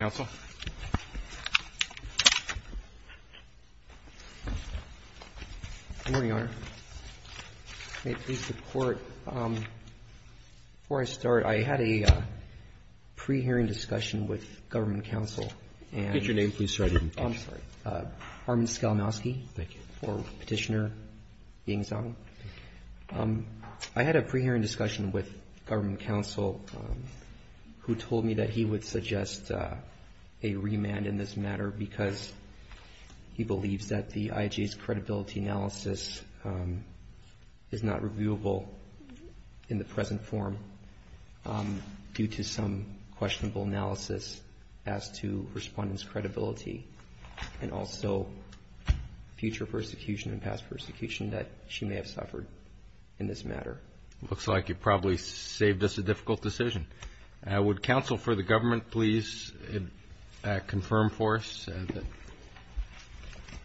Good morning, Your Honor. May it please the Court, before I start, I had a pre-hearing discussion with government counsel and… Could you repeat your name, please, so I didn't catch you. I'm sorry. Armin Skalmowski. Thank you. Former petitioner, Ying Zhang. I had a pre-hearing discussion with government counsel who told me that he would suggest a remand in this matter because he believes that the IJA's credibility analysis is not reviewable in the present form due to some questionable analysis as to respondents' credibility and also future persecution and past persecution that she may have suffered in this matter. It looks like you probably saved us a difficult decision. Would counsel for the government please confirm for us?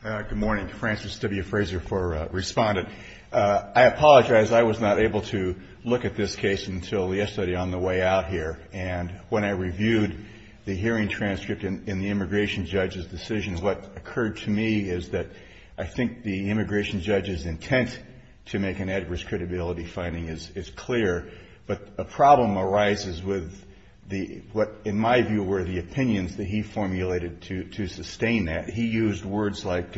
Good morning. Francis W. Fraser for Respondent. I apologize. I was not able to look at this case until yesterday on the way out here, and when I reviewed the hearing transcript in the immigration judge's decision, what occurred to me is that I think the immigration judge's intent to make an adverse credibility finding is clear, but a problem arises with what in my view were the opinions that he formulated to sustain that. He used words like,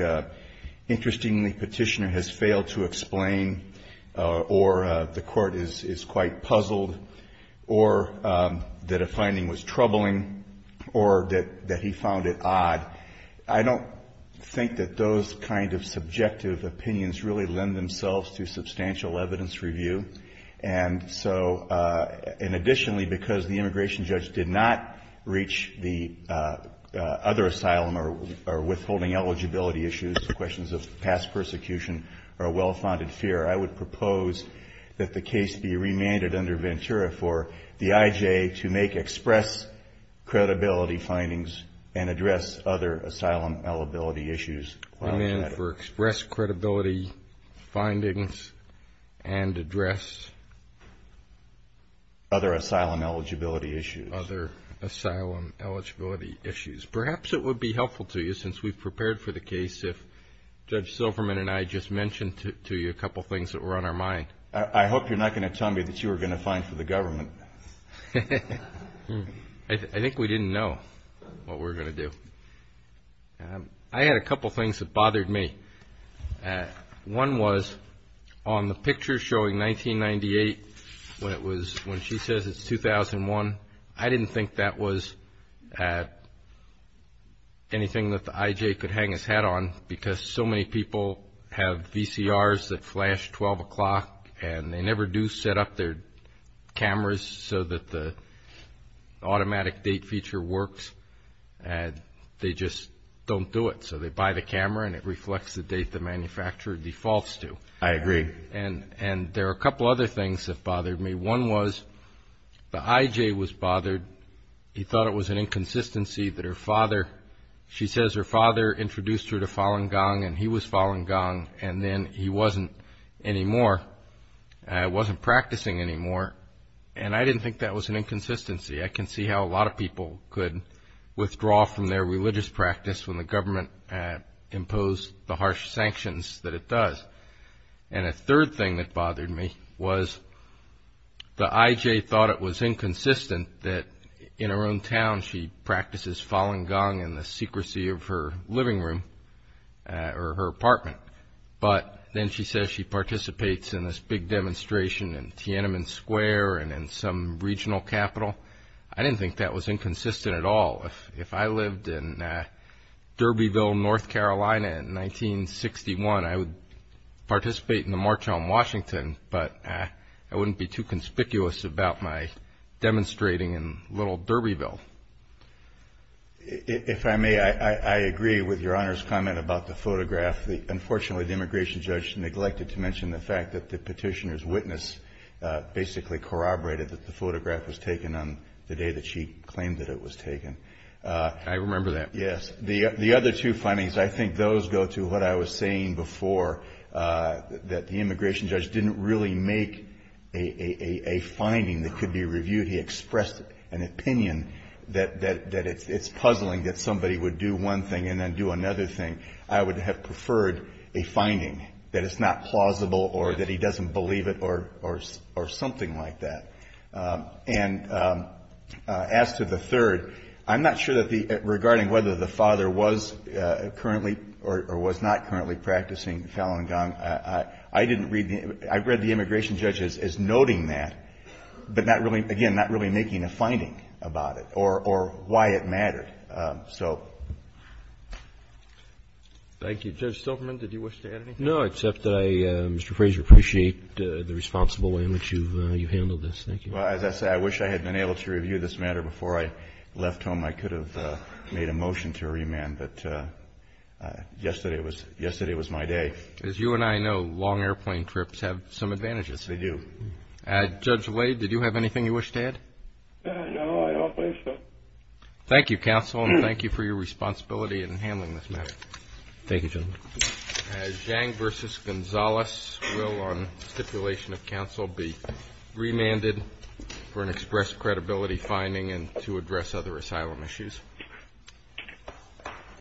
interestingly, petitioner has failed to explain, or the court is quite puzzled, or that a finding was troubling, or that he found it odd. I don't think that those kind of subjective opinions really lend themselves to substantial evidence review, and additionally, because the immigration judge did not reach the other asylum or withholding eligibility issues, the questions of past persecution are a well-founded fear. I would propose that the case be remanded under Ventura for the IJA to make express credibility findings and address other asylum eligibility issues. Other asylum eligibility issues. Perhaps it would be helpful to you, since we've prepared for the case, if Judge Silverman and I just mentioned to you a couple things that were on our mind. I hope you're not going to tell me that you were going to find for the government. I think we didn't know what we were going to do. I had a couple things that bothered me. One was on the picture showing 1998, when she says it's 2001, I didn't think that was anything that the IJA could hang its hat on, because so many people have VCRs that flash 12 o'clock, and they never do set up their cameras so that the automatic date feature works, and they just don't do it. So they buy the camera, and it reflects the date the manufacturer defaults to. I agree. And there are a couple other things that bothered me. One was the IJA was bothered. He thought it was an inconsistency that her father, she says her father introduced her to Falun Gong, and he was Falun Gong, and then he wasn't practicing anymore. And I didn't think that was an inconsistency. I can see how a lot of people could withdraw from their religious practice when the government imposed the harsh sanctions that it does. And a third thing that bothered me was the IJA thought it was inconsistent that in her hometown, she practices Falun Gong in the secrecy of her living room or her apartment, but then she says she participates in this big demonstration in Tiananmen Square and in some regional capital. I didn't think that was inconsistent at all. If I lived in Derbyville, North Carolina in 1961, I would participate in the March on Washington, but I wouldn't be too conspicuous about my demonstrating in little Derbyville. If I may, I agree with Your Honor's comment about the photograph. Unfortunately, the immigration judge neglected to mention the fact that the petitioner's witness basically corroborated that the photograph was taken on the day that she claimed that it was taken. I remember that. Yes. The other two findings, I think those go to what I was saying before, that the immigration judge didn't really make a finding that could be reviewed. He expressed an opinion that it's puzzling that somebody would do one thing and then do another thing. I would have preferred a finding that it's not plausible or that he doesn't believe it or something like that. And as to the third, I'm not sure that regarding whether the father was currently or was not practicing Falun Gong, I didn't read the immigration judge as noting that, but not really, again, not really making a finding about it or why it mattered. So... Thank you. Judge Silverman, did you wish to add anything? No, except that I, Mr. Fraser, appreciate the responsible way in which you've handled this. Thank you. Well, as I said, I wish I had been able to review this matter before I left home. I could have made a motion to remand, but yesterday was my day. As you and I know, long airplane trips have some advantages. They do. Judge Wade, did you have anything you wish to add? No, I don't wish to. Thank you, counsel, and thank you for your responsibility in handling this matter. Thank you, gentlemen. As Zhang v. Gonzalez will, on stipulation of counsel, be remanded for an express credibility finding and to address other asylum issues.